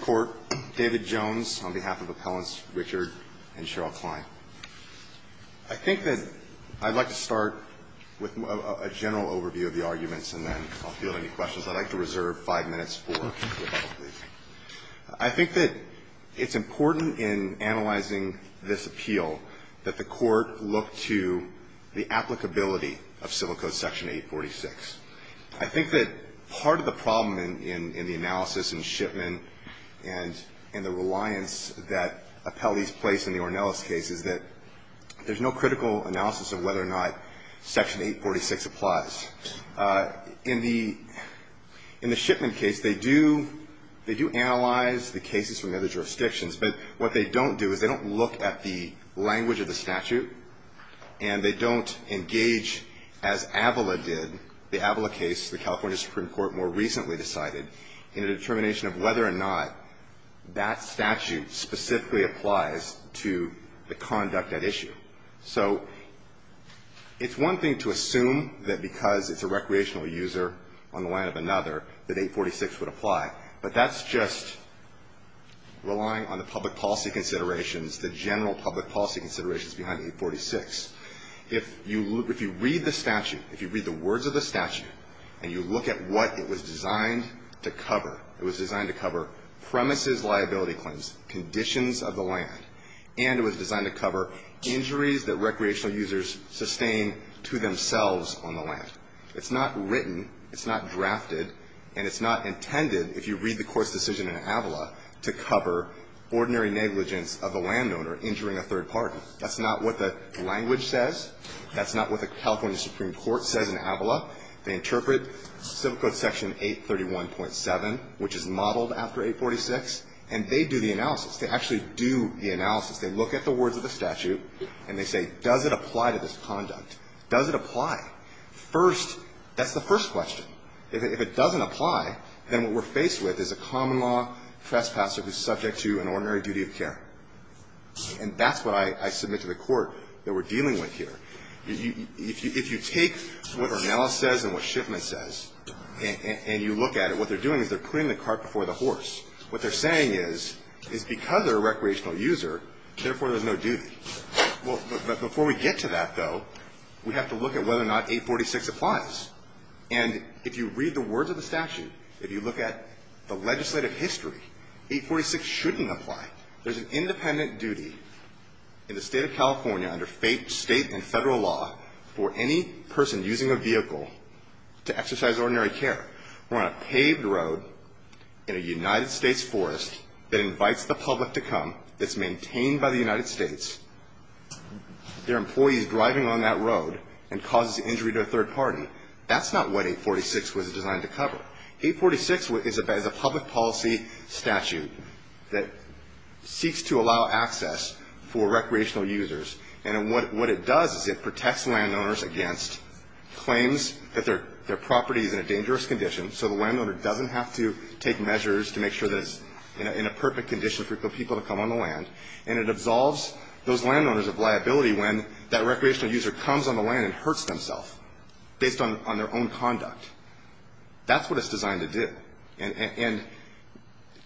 Court, David Jones, on behalf of Appellants Richard and Cheryl Klein. I think that I'd like to start with a general overview of the arguments, and then I'll field any questions. I'd like to reserve five minutes for rebuttal, please. I think that it's important in analyzing this appeal that the Court look to the applicability of Civil Code Section 846. I think that part of the problem in the analysis and shipment and the reliance that Appellees place in the Ornelas case is that there's no critical analysis of whether or not Section 846 applies. In the shipment case, they do analyze the cases from other jurisdictions, but what they don't do is they don't look at the language of the statute, and they don't engage as Avila did, the Avila case the California Supreme Court more recently decided, in a determination of whether or not that statute specifically applies to the conduct at issue. So it's one thing to assume that because it's a recreational user on the line of another that 846 would apply, but that's just relying on the public policy considerations, the general public policy considerations behind 846. If you read the statute, if you read the words of the statute, and you look at what it was designed to cover, it was designed to cover premises liability claims, conditions of the land, and it was designed to cover injuries that recreational users sustain to themselves on the land. It's not written, it's not drafted, and it's not intended, if you read the Court's decision in Avila, to cover ordinary negligence of a landowner injuring a third party. That's not what the language says. That's not what the California Supreme Court says in Avila. They interpret Civil Code Section 831.7, which is modeled after 846, and they do the analysis. They actually do the analysis. They look at the words of the statute, and they say, does it apply to this conduct? Does it apply? First, that's the first question. If it doesn't apply, then what we're faced with is a common law trespasser who's subject to an ordinary duty of care. And that's what I submit to the Court that we're dealing with here. If you take what Arnella says and what Shipman says, and you look at it, what they're doing is they're putting the cart before the horse. What they're saying is, is because they're a recreational user, therefore, there's no duty. But before we get to that, though, we have to look at whether or not 846 applies. And if you read the words of the statute, if you look at the legislative history, 846 shouldn't apply. There's an independent duty in the State of California under State and Federal law for any person using a vehicle to exercise ordinary care. We're on a paved road in a United States forest that invites the public to come. It's maintained by the United States. There are employees driving on that road and causes injury to a third party. That's not what 846 was designed to cover. 846 is a public policy statute that seeks to allow access for recreational users. And what it does is it protects landowners against claims that their property is in a dangerous condition, so the landowner doesn't have to take measures to make sure that it's in a perfect condition for people to come on the land. And it absolves those landowners of liability when that recreational user comes on the land and hurts themselves based on their own conduct. That's what it's designed to do. And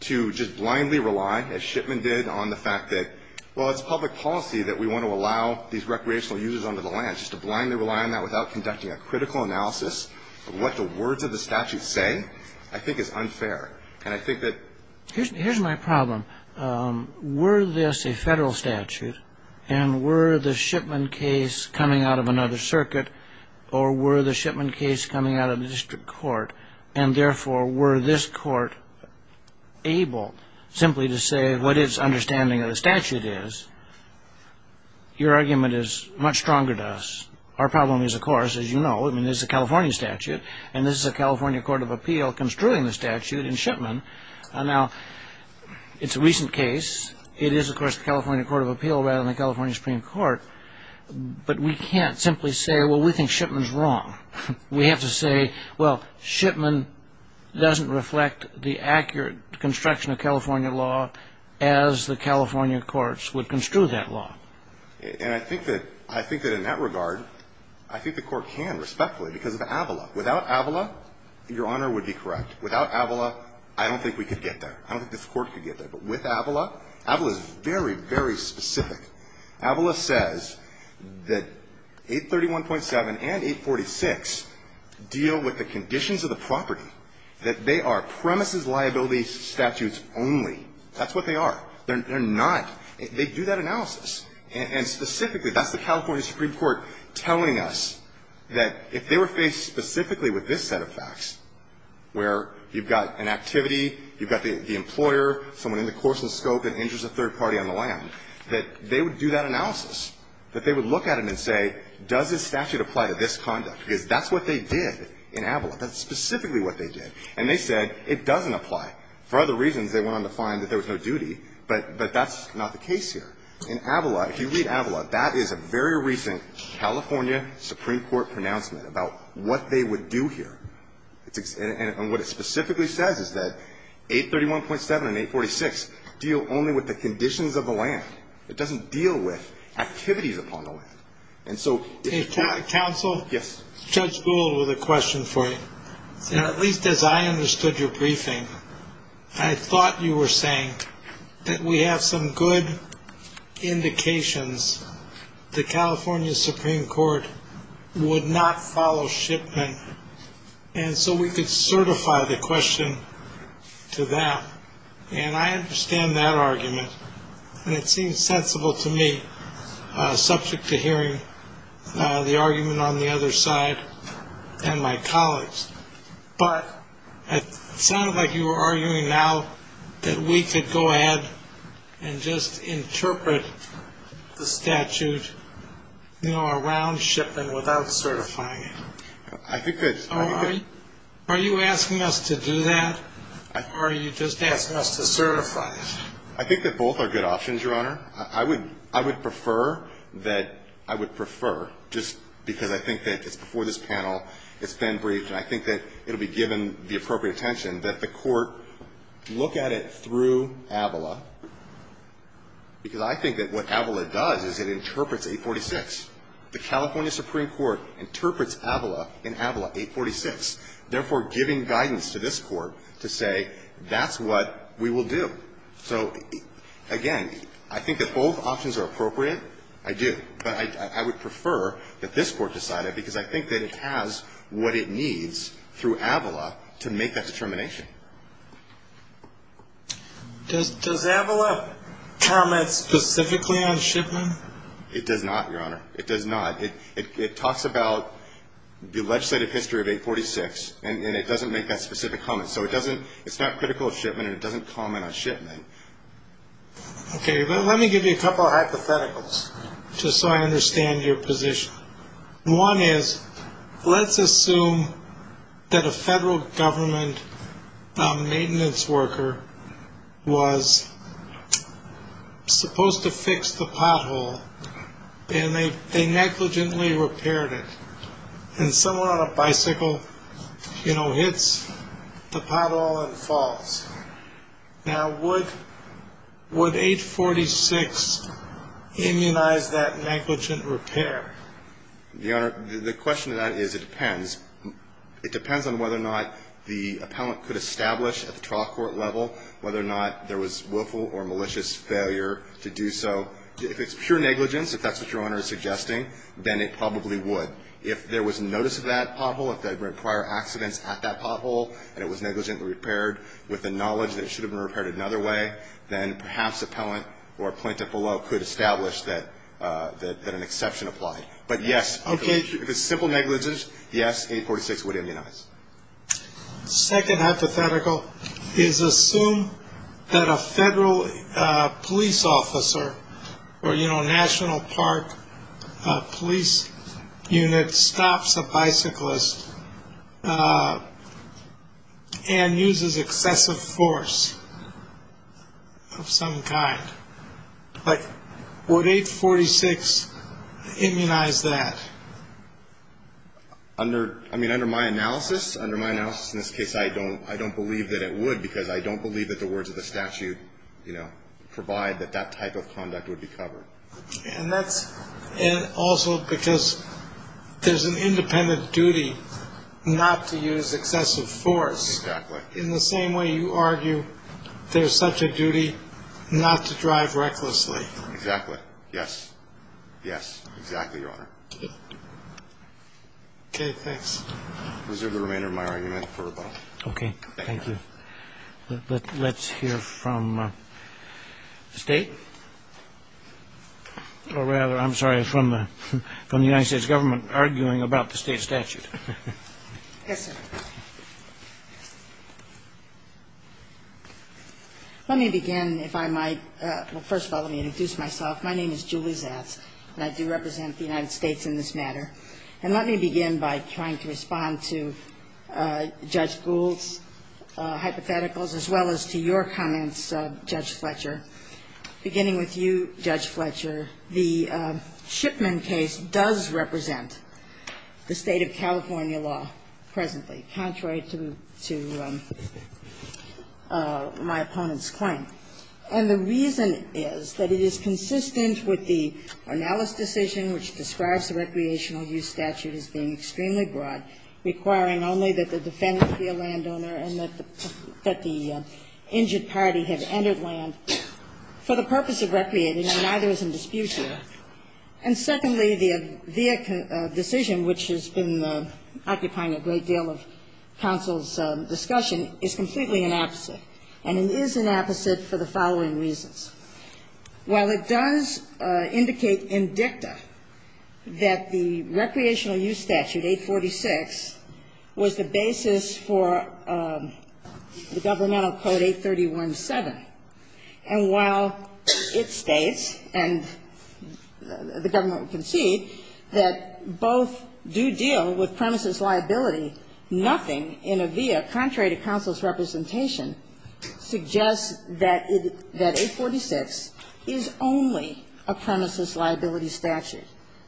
to just blindly rely, as Shipman did, on the fact that, well, it's public policy that we want to allow these recreational users onto the land. Just to blindly rely on that without conducting a critical analysis of what the words of the statute say, I think, is unfair. And I think that... Here's my problem. Were this a Federal statute, and were the Shipman case coming out of another circuit, or were the Shipman case coming out of the district court? And therefore, were this court able simply to say what its understanding of the statute is? Your argument is much stronger to us. Our problem is, of course, as you know, I mean, this is a California statute, and this is a California Court of Appeal construing the statute in Shipman. Now, it's a recent case. It is, of course, a California Court of Appeal rather than a California Supreme Court. But we can't simply say, well, we think Shipman's wrong. We have to say, well, Shipman doesn't reflect the accurate construction of California law as the California courts would construe that law. And I think that in that regard, I think the court can, respectfully, because of Avala. Without Avala, Your Honor would be correct. Without Avala, I don't think we would be very specific. Avala says that 831.7 and 846 deal with the conditions of the property, that they are premises liability statutes only. That's what they are. They're not. They do that analysis. And specifically, that's the California Supreme Court telling us that if they were faced specifically with this set of facts, where you've got an activity, you've got the employer, someone in the course and that they would do that analysis, that they would look at it and say, does this statute apply to this conduct? Because that's what they did in Avala. That's specifically what they did. And they said it doesn't apply. For other reasons, they went on to find that there was no duty, but that's not the case here. In Avala, if you read Avala, that is a very recent California Supreme Court pronouncement about what they would do here. And what it specifically says is that 831.7 and 846 deal only with the conditions of the land. It doesn't deal with activities upon the land. And so if you're trying to counsel. Yes. Judge Boole with a question for you. At least as I understood your briefing, I thought you were saying that we have some good indications the California Supreme Court would not follow shipment. And so we could certify the question to them. And I understand that argument. And it seems sensible to me, subject to hearing the argument on the other side and my colleagues. But it sounded like you were arguing now that we could go ahead and just interpret the statute, you know, around the question of whether or not we would follow shipment without certifying it. Are you asking us to do that? Or are you just asking us to certify it? I think that both are good options, Your Honor. I would prefer that I would prefer, just because I think that it's before this panel, it's been briefed, and I think that it will be given the appropriate attention, that the Court look at it through Avala, because I think that what Avala does is it interprets 846. The California Supreme Court interprets Avala in Avala 846, therefore giving guidance to this Court to say that's what we will do. So, again, I think that both options are appropriate. I do. But I would prefer that this Court decide it, because I think that it has what it needs through Avala to make that determination. Does Avala comment specifically on shipment? It does not, Your Honor. It does not. It talks about the legislative history of 846, and it doesn't make that specific comment. So it doesn't, it's not critical of shipment, and it doesn't comment on shipment. Okay. Well, let me give you a couple of hypotheticals, just so I understand your position. One is, let's assume that a federal government maintenance worker was supposed to fix the pothole, and they negligently repaired it. And someone on a bicycle, you know, hits the pothole and falls. Now, would 846 immunize that negligent repair? Your Honor, the question to that is, it depends. It depends on whether or not the appellant could establish at the trial court level whether or not there was willful or malicious failure to do so. If it's pure negligence, if that's what Your Honor is suggesting, then it probably would. If there was notice of that pothole, if there were prior accidents at that pothole, and it was negligently repaired with the knowledge that it should have been repaired another way, then perhaps the appellant or a plaintiff below could establish that an exception applied. But yes, if it's simple negligence, yes, 846 would immunize. Second hypothetical is, assume that a federal police officer or, you know, a National Park police unit stops a bicyclist and uses excessive force. Of some kind. But would 846 immunize that? Under, I mean, under my analysis, under my analysis in this case, I don't believe that it would because I don't believe that the words of the statute, you know, provide that that type of conduct would be covered. And that's also because there's an independent duty not to use excessive force. In the same way you argue there's such a duty not to drive recklessly. Exactly. Yes. Yes, exactly, Your Honor. Okay, thanks. Is there the remainder of my argument for rebuttal? Okay, thank you. Let's hear from State. Or rather, I'm sorry, from the United States Government arguing about the State statute. Yes, sir. Let me begin, if I might. Well, first of all, let me introduce myself. My name is Julie Zatz. And I do represent the United States in this matter. And let me begin by trying to respond to Judge Gould's hypotheticals as well as to your comments, Judge Fletcher. Beginning with you, Judge Fletcher, the Shipman case does represent the State of California law presently, contrary to my opponent's claim. And the reason is that it is consistent with the Arnalis decision, which describes the recreational use statute as being extremely broad, requiring only that the defendant be a landowner and that the injured party have entered land for the purpose of recreating, and neither is in dispute here. And secondly, the decision, which has been occupying a great deal of counsel's discussion, is completely inopposite, and it is inopposite for the following reasons. While it does indicate in dicta that the recreational use statute, 846, was the basis for the governmental code 831.7, and while it states, and the government can see, that both do deal with premises liability, nothing in AVIA, contrary to counsel's representation, suggests that 846 is only a premises liability statute.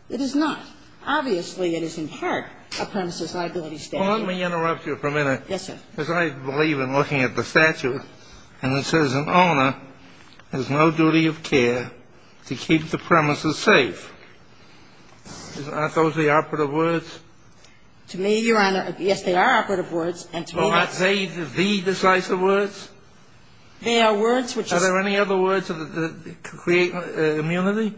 It is not. Obviously, it is in part a premises liability statute. You want me to interrupt you for a minute? Yes, sir. Because I believe in looking at the statute, and it says an owner has no duty of care to keep the premises safe. Aren't those the operative words? To me, Your Honor, yes, they are operative words, and to me, that's the decisive words. They are words which are the decisive words. Are there any other words that create immunity?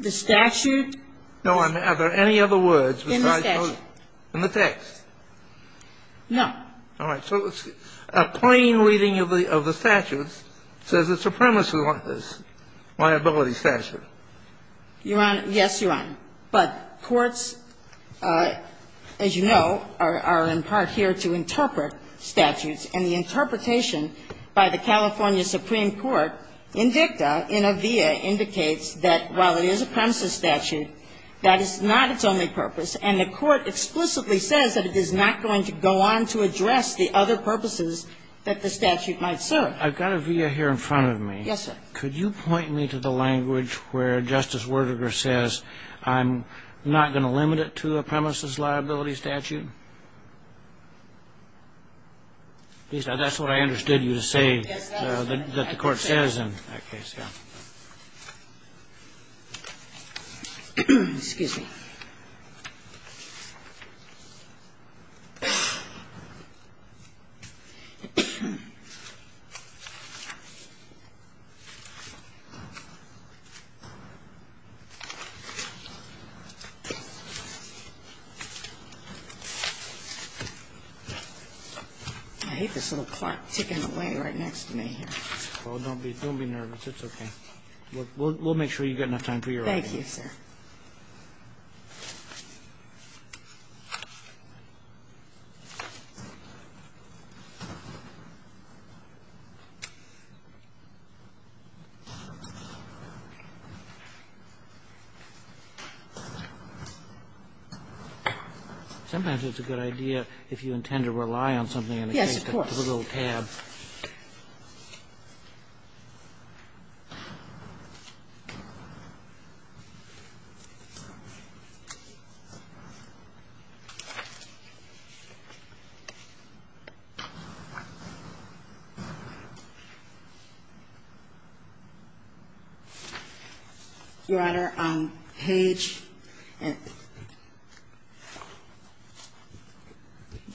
The statute. No, I mean, are there any other words besides those? In the statute. In the text? No. All right. So a plain reading of the statute says it's a premises liability statute. Your Honor, yes, Your Honor. But courts, as you know, are in part here to interpret statutes, and the interpretation by the California Supreme Court in dicta, in a via, indicates that while it is a premises statute, that is not its only purpose. And the Court explicitly says that it is not going to go on to address the other purposes that the statute might serve. I've got a via here in front of me. Yes, sir. Could you point me to the language where Justice Werdegar says I'm not going to limit it to a premises liability statute? That's what I understood you to say, that the Court says in that case. Yes. Excuse me. I hate this little clock ticking away right next to me here. Oh, don't be nervous. It's okay. We'll make sure you've got enough time for your writing. Thank you, sir. Sometimes it's a good idea, if you intend to rely on something in a case, to put a little tab. Your Honor, on page — let's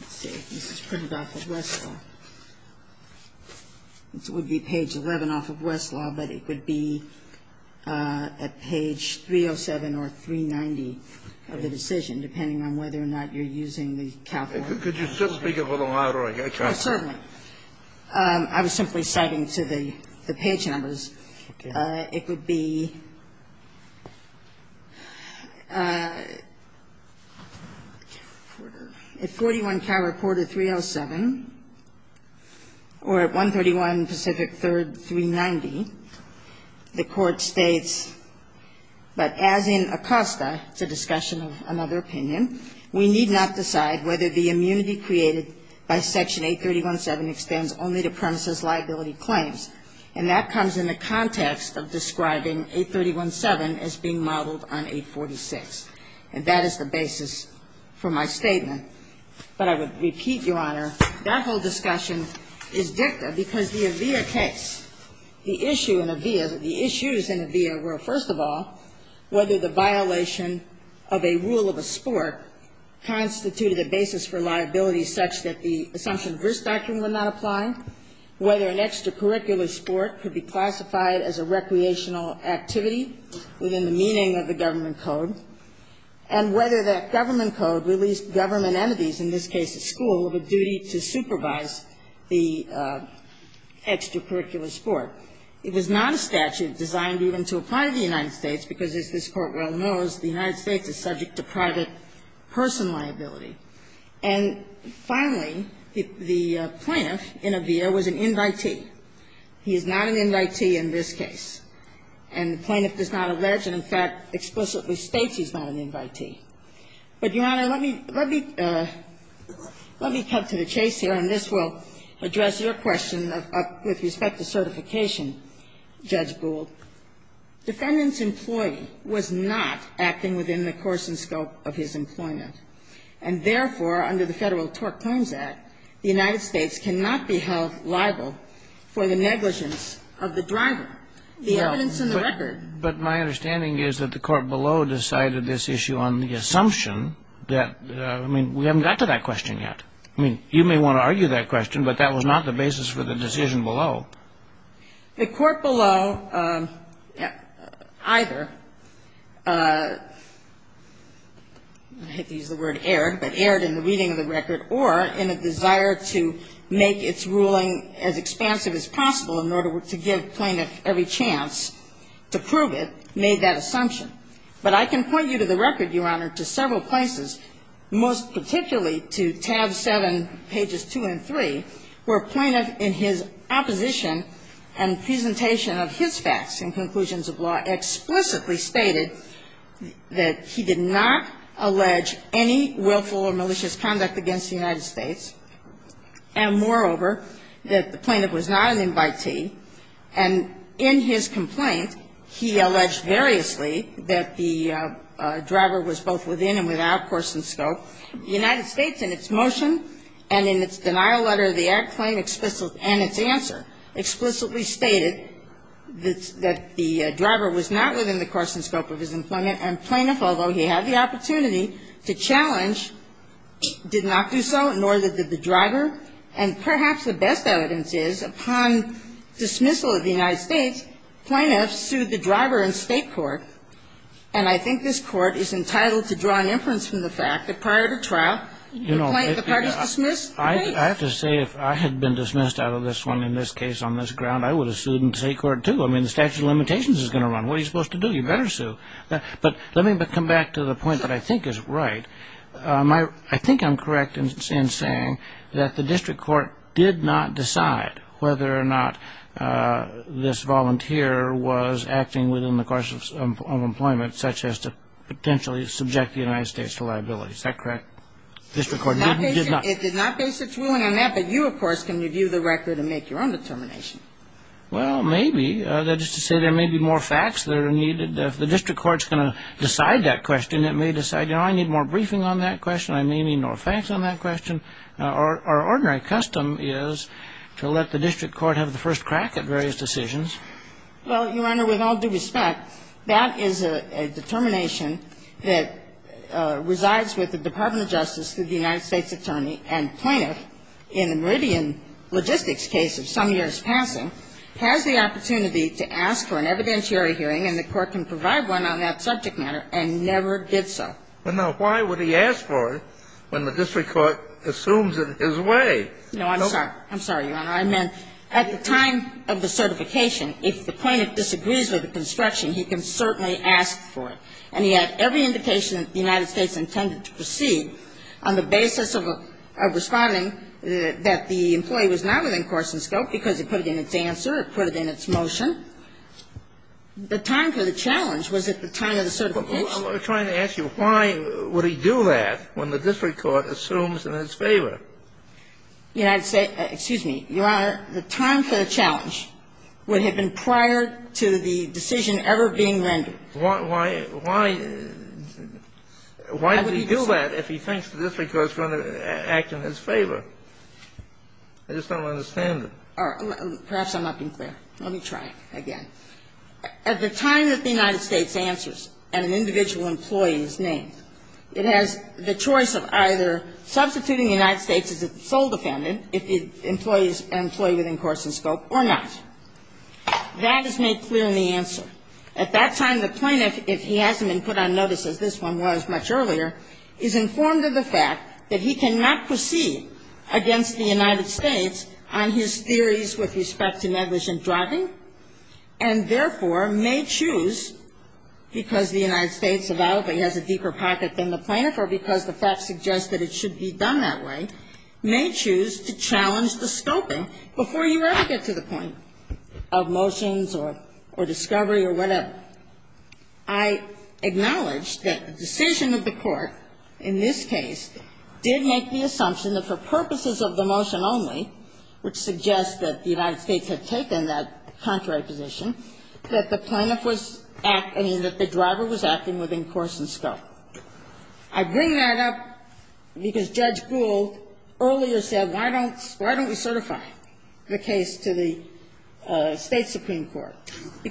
see, this is printed off of Westfall. It would be page 11 off of Westfall, but it would be at page 307 or 390 of the decision, depending on whether or not you're using the California statute. Could you speak a little louder? I can't hear you. Certainly. I was simply citing to the page numbers. Okay. Okay. So it would be 41, Cal Reporter 307, or 131 Pacific 3rd, 390. The Court states, but as in Acosta, it's a discussion of another opinion, we need not decide whether the immunity created by Section 831.7 extends only to premises liability claims. And that comes in the context of describing 831.7 as being modeled on 846. And that is the basis for my statement. But I would repeat, Your Honor, that whole discussion is dicta because the AVIA case, the issue in AVIA, the issues in AVIA were, first of all, whether the violation of a rule of a sport constituted a basis for liability such that the Assumption of Risk Doctrine would not apply, whether an extracurricular sport could be classified as a recreational activity within the meaning of the government code, and whether that government code released government entities, in this case a school, of a duty to supervise the extracurricular sport. It was not a statute designed even to apply to the United States, because as this Court well knows, the United States is subject to private person liability. And finally, the plaintiff in AVIA was an invitee. He is not an invitee in this case. And the plaintiff does not allege and, in fact, explicitly states he's not an invitee. But, Your Honor, let me come to the chase here, and this will address your question with respect to certification, Judge Gould. Defendant's employee was not acting within the course and scope of his employment. And therefore, under the Federal TORC Claims Act, the United States cannot be held liable for the negligence of the driver. The evidence and the record. But my understanding is that the court below decided this issue on the assumption that we haven't got to that question yet. I mean, you may want to argue that question, but that was not the basis for the decision The court below either, I hate to use the word erred, but erred in the reading of the record, or in a desire to make its ruling as expansive as possible in order to give plaintiff every chance to prove it, made that assumption. But I can point you to the record, Your Honor, to several places, most particularly to tab 7, pages 2 and 3, where a plaintiff in his opposition and presentation of his facts and conclusions of law explicitly stated that he did not allege any willful or malicious conduct against the United States, and moreover, that the plaintiff was not an invitee. And in his complaint, he alleged variously that the driver was both within and without course and scope. The United States, in its motion and in its denial letter of the Act claim and its answer, explicitly stated that the driver was not within the course and scope of his employment, and plaintiff, although he had the opportunity to challenge, did not do so, nor did the driver. And perhaps the best evidence is, upon dismissal of the United States, plaintiffs sued the driver in State court, and I think this Court is entitled to draw an inference from the fact that prior to trial, the plaintiff was dismissed. I have to say, if I had been dismissed out of this one, in this case, on this ground, I would have sued in State court, too. I mean, the statute of limitations is going to run. What are you supposed to do? You better sue. But let me come back to the point that I think is right. I think I'm correct in saying that the district court did not decide whether or not this volunteer was acting within the course of employment, such as to potentially subject the United States to liability. Is that correct? The district court did not. It did not base its ruling on that, but you, of course, can review the record and make your own determination. Well, maybe. That is to say, there may be more facts that are needed. If the district court is going to decide that question, it may decide, you know, I need more briefing on that question, I may need more facts on that question. Our ordinary custom is to let the district court have the first crack at various decisions. Well, Your Honor, with all due respect, that is a determination that resides with the Department of Justice, the United States Attorney, and plaintiff, in the Meridian Logistics case of some years passing, has the opportunity to ask for an evidentiary hearing, and the court can provide one on that subject matter, and never did so. Well, now, why would he ask for it when the district court assumes it his way? No, I'm sorry. I'm sorry, Your Honor. I meant at the time of the certification, if the plaintiff disagrees with the construction, he can certainly ask for it. And he had every indication that the United States intended to proceed on the basis of responding that the employee was not within course and scope because it put it in its answer, it put it in its motion. The time for the challenge was at the time of the certification. I'm trying to ask you, why would he do that when the district court assumes in its favor? United States – excuse me, Your Honor. The time for the challenge would have been prior to the decision ever being rendered. Why – why – why would he do that if he thinks the district court is going to act in his favor? I just don't understand it. Perhaps I'm not being clear. Let me try again. At the time that the United States answers and an individual employee is named, it has the choice of either substituting the United States as a sole defendant if the employee is an employee within course and scope or not. That is made clear in the answer. At that time, the plaintiff, if he hasn't been put on notice as this one was much earlier, is informed of the fact that he cannot proceed against the United States on his theories with respect to negligent driving, and therefore may choose, because the United States has a deeper pocket than the plaintiff or because the fact suggests that it should be done that way, may choose to challenge the scoping before you ever get to the point of motions or discovery or whatever. I acknowledge that the decision of the court in this case did make the assumption that for purposes of the motion only, which suggests that the United States had taken that contrary position, that the driver was acting within course and scope. I bring that up because Judge Gould earlier said, why don't we certify the case to the State Supreme Court?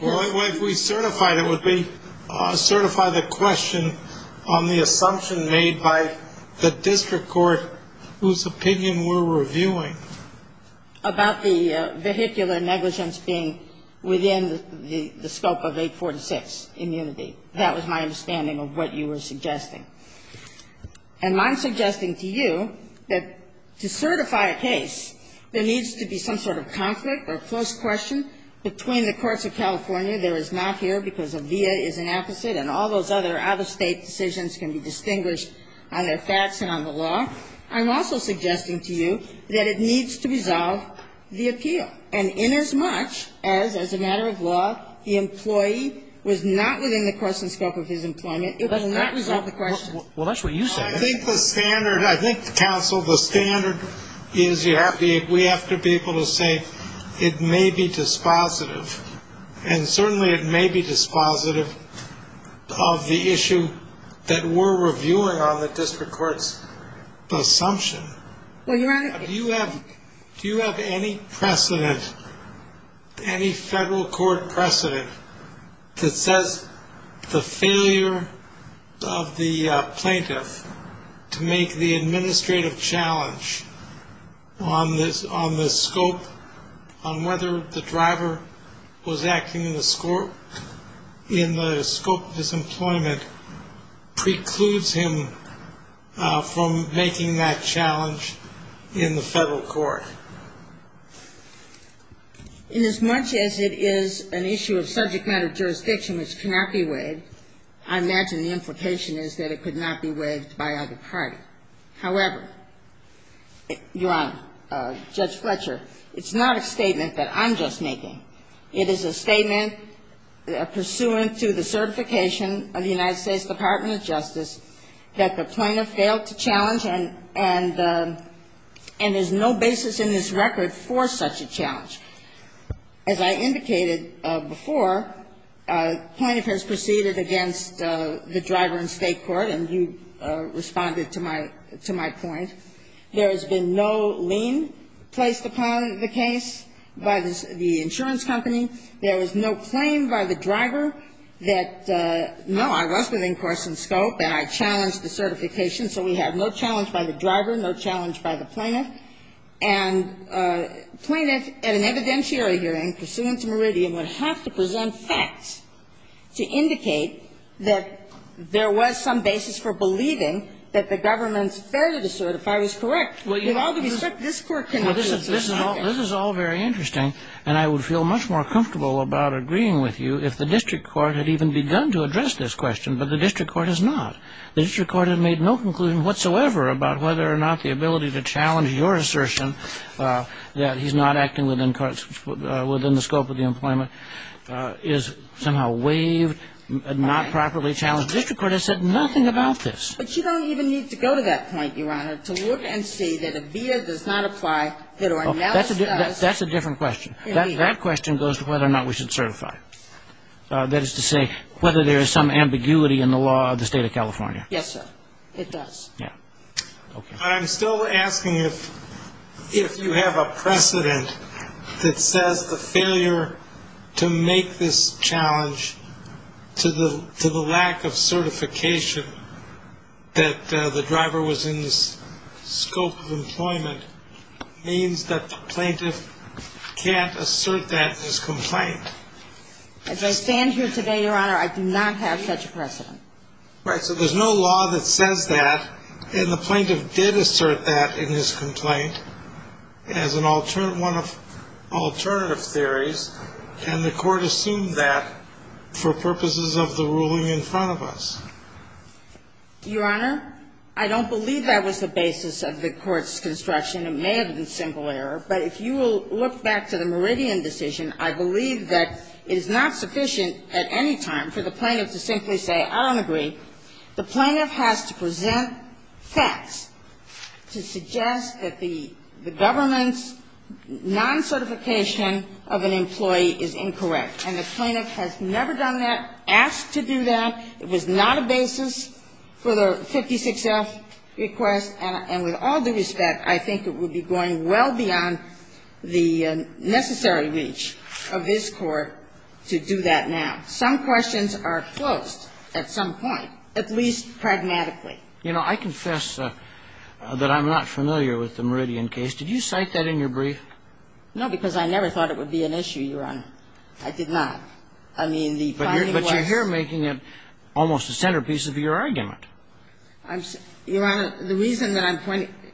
Well, if we certify it, it would be to certify the question on the assumption made by the district court whose opinion we're reviewing. And I'm suggesting to you that to certify a case, there needs to be some sort of conflict or close question between the courts of California. There is not here because a via is an apposite, and all those other out-of-State decisions can be distinguished on their facts and on the law. And in as much as, as a matter of law, the employee was not within the course and scope of his employment, it will not resolve the question. Well, that's what you said. I think the standard, I think, counsel, the standard is we have to be able to say it may be dispositive, and certainly it may be dispositive of the issue that we're reviewing on the district court's assumption. Well, Your Honor. Do you have any precedent, any federal court precedent that says the failure of the plaintiff to make the administrative challenge on the scope, on whether the driver was acting in the scope of his employment precludes him from making that challenge in the federal court? In as much as it is an issue of subject matter jurisdiction which cannot be waived, I imagine the implication is that it could not be waived by either party. However, Your Honor, Judge Fletcher, it's not a statement that I'm just making. It is a statement pursuant to the certification of the United States Department of Justice that the plaintiff failed to challenge and is no basis in this record for such a challenge. As I indicated before, plaintiff has proceeded against the driver in State court, and you responded to my point. There has been no lien placed upon the case by the insurance company. There is no claim by the driver that, no, I was within course and scope and I challenged the certification, so we have no challenge by the driver, no challenge by the plaintiff. And plaintiff, at an evidentiary hearing pursuant to Meridian, would have to present facts to indicate that there was some basis for believing that the government's failure to certify was correct. With all due respect, this Court cannot do that. This is all very interesting, and I would feel much more comfortable about agreeing with you if the district court had even begun to address this question, but the district court has not. The district court has made no conclusion whatsoever about whether or not the ability to challenge your assertion that he's not acting within the scope of the employment is somehow waived, not properly challenged. The district court has said nothing about this. But you don't even need to go to that point, Your Honor, to look and see that a via does not apply, it or analysis does. That's a different question. Indeed. That question goes to whether or not we should certify. That is to say whether there is some ambiguity in the law of the State of California. Yes, sir. It does. Yeah. Okay. I'm still asking if you have a precedent that says the failure to make this challenge to the lack of certification that the driver was in the scope of employment means that the plaintiff can't assert that in his complaint. As I stand here today, Your Honor, I do not have such a precedent. Right. So there's no law that says that, and the plaintiff did assert that in his complaint as an alternative one of alternative theories, and the Court assumed that for purposes of the ruling in front of us. Your Honor, I don't believe that was the basis of the Court's construction. It may have been simple error. But if you will look back to the Meridian decision, I believe that it is not sufficient at any time for the plaintiff to simply say, I don't agree. The plaintiff has to present facts to suggest that the government's non-certification of an employee is incorrect, and the plaintiff has never done that, asked to do that. It was not a basis for the 56F request, and with all due respect, I think it would be going well beyond the necessary reach of this Court to do that now. Some questions are closed at some point, at least pragmatically. You know, I confess that I'm not familiar with the Meridian case. Did you cite that in your brief? No, because I never thought it would be an issue, Your Honor. I did not. I mean, the finding was — But you're here making it almost a centerpiece of your argument. Your Honor, the reason that I'm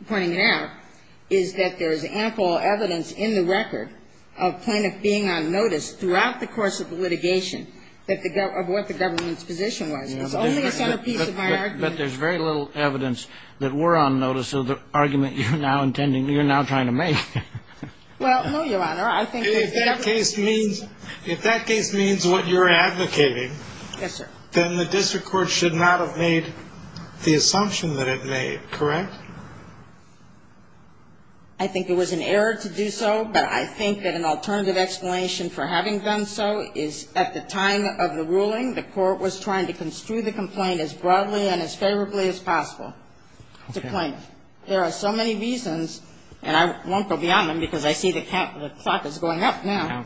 pointing it out is that there is ample evidence in the record of plaintiff being on notice throughout the course of the litigation of what the government's position was. It's only a centerpiece of my argument. But there's very little evidence that we're on notice of the argument you're now intending — you're now trying to make. Well, no, Your Honor. I think that if that case means — if that case means what you're advocating — Yes, sir. — then the district court should not have made the assumption that it made, correct? I think it was an error to do so, but I think that an alternative explanation for having done so is at the time of the ruling, the court was trying to construe the complaint as broadly and as favorably as possible to plaintiff. There are so many reasons, and I won't go beyond them because I see the clock is going up now.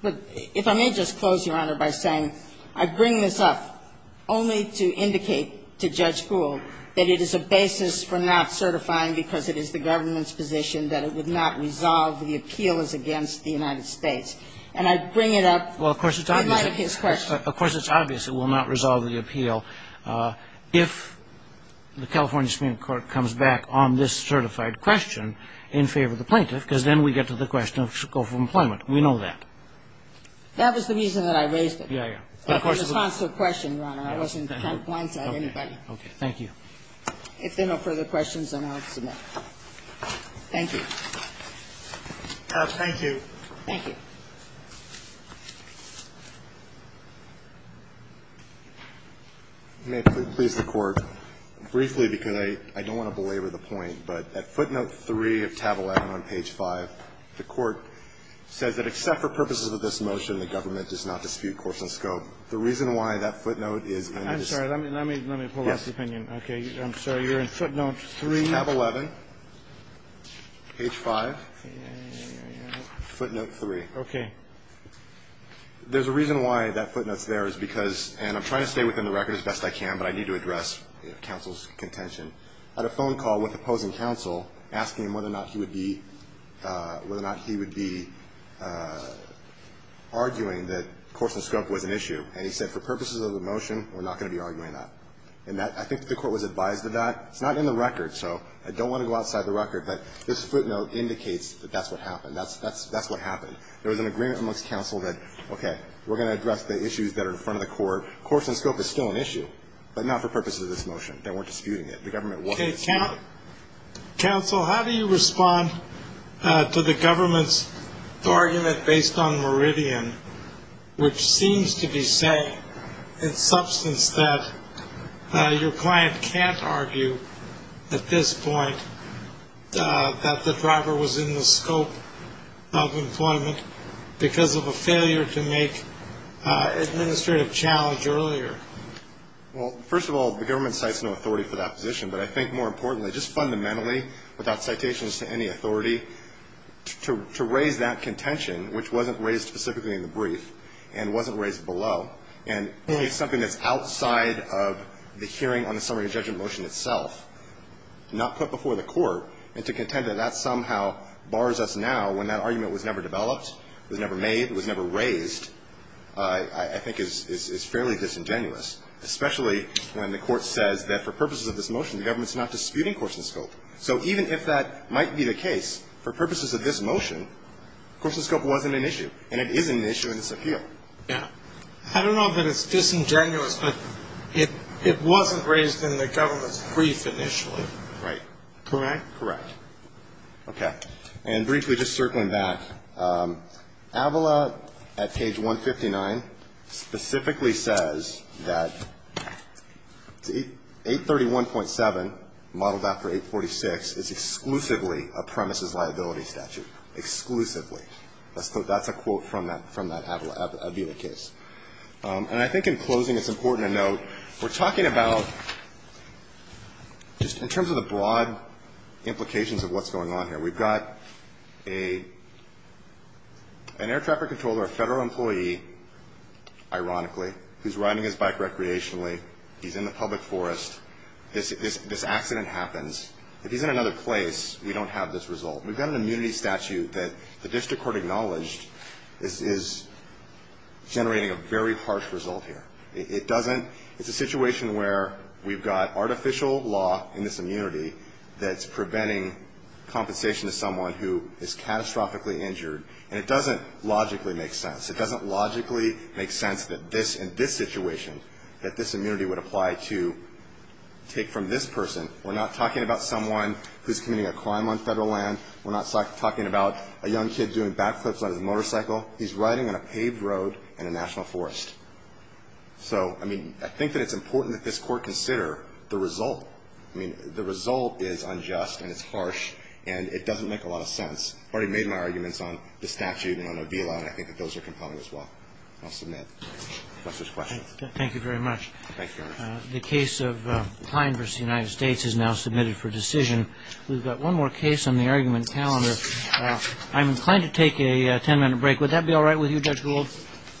But if I may just close, Your Honor, by saying I bring this up only to indicate to Judge Gould that it is a basis for not certifying because it is the government's position that it would not resolve the appeals against the United States. And I bring it up in light of his question. Well, of course, it's obvious it will not resolve the appeal if the California Supreme Court comes back on this certified question in favor of the plaintiff because then we get to the question of scope of employment. We know that. That was the reason that I raised it. Yeah, yeah. That was a responsive question, Your Honor. I wasn't trying to blindside anybody. Okay. Thank you. If there are no further questions, then I'll submit. Thank you. Thank you. Thank you. May it please the Court. Briefly, because I don't want to belabor the point, but at footnote 3 of tab 11 on page 5, the Court says that except for purposes of this motion, the government does not The reason why that footnote is in this. I'm sorry. Let me pull up the opinion. Okay. I'm sorry. You're in footnote 3. Tab 11, page 5, footnote 3. Okay. There's a reason why that footnote's there is because, and I'm trying to stay within the record as best I can, but I need to address counsel's contention. I had a phone call with opposing counsel asking him whether or not he would be arguing that course and scope was an issue. And he said for purposes of the motion, we're not going to be arguing that. And I think the Court was advised of that. It's not in the record, so I don't want to go outside the record, but this footnote indicates that that's what happened. That's what happened. There was an agreement amongst counsel that, okay, we're going to address the issues that are in front of the Court. Course and scope is still an issue, but not for purposes of this motion. They weren't disputing it. The government wasn't disputing it. Counsel, how do you respond to the government's argument based on Meridian, which seems to be saying in substance that your client can't argue at this point that the driver was in the scope of employment because of a failure to make administrative challenge earlier? Well, first of all, the government cites no authority for that position. But I think more importantly, just fundamentally, without citations to any authority, to raise that contention, which wasn't raised specifically in the brief and wasn't raised below, and it's something that's outside of the hearing on the summary of judgment motion itself, not put before the Court, and to contend that that somehow bars us now when that argument was never developed, was never made, was never raised, I think is fairly disingenuous, especially when the Court says that for purposes of this motion, the government's not disputing course and scope. So even if that might be the case, for purposes of this motion, course and scope wasn't an issue, and it is an issue in this appeal. Yeah. I don't know that it's disingenuous, but it wasn't raised in the government's brief initially. Right. Correct? Correct. Okay. And briefly, just circling back, AVILA at page 159 specifically says that 831.7, modeled after 846, is exclusively a premises liability statute, exclusively. That's a quote from that AVILA case. And I think in closing, it's important to note we're talking about just in terms of the broad implications of what's going on here. We've got an air traffic controller, a federal employee, ironically, who's riding his bike recreationally. He's in the public forest. This accident happens. If he's in another place, we don't have this result. We've got an immunity statute that the district court acknowledged is generating a very harsh result here. It doesn't. It's a situation where we've got artificial law in this immunity that's preventing compensation to someone who is catastrophically injured, and it doesn't logically make sense. It doesn't logically make sense that this, in this situation, that this immunity would apply to take from this person. We're not talking about someone who's committing a crime on federal land. We're not talking about a young kid doing back flips on his motorcycle. He's riding on a paved road in a national forest. So, I mean, I think that it's important that this Court consider the result. I mean, the result is unjust and it's harsh, and it doesn't make a lot of sense. I've already made my arguments on the statute and on AVILA, and I think that those are compelling as well. I'll submit. If there's questions. Roberts. Thank you very much. Thank you, Your Honor. The case of Kline v. United States is now submitted for decision. We've got one more case on the argument calendar. I'm inclined to take a ten-minute break. Would that be all right with you, Judge Gould?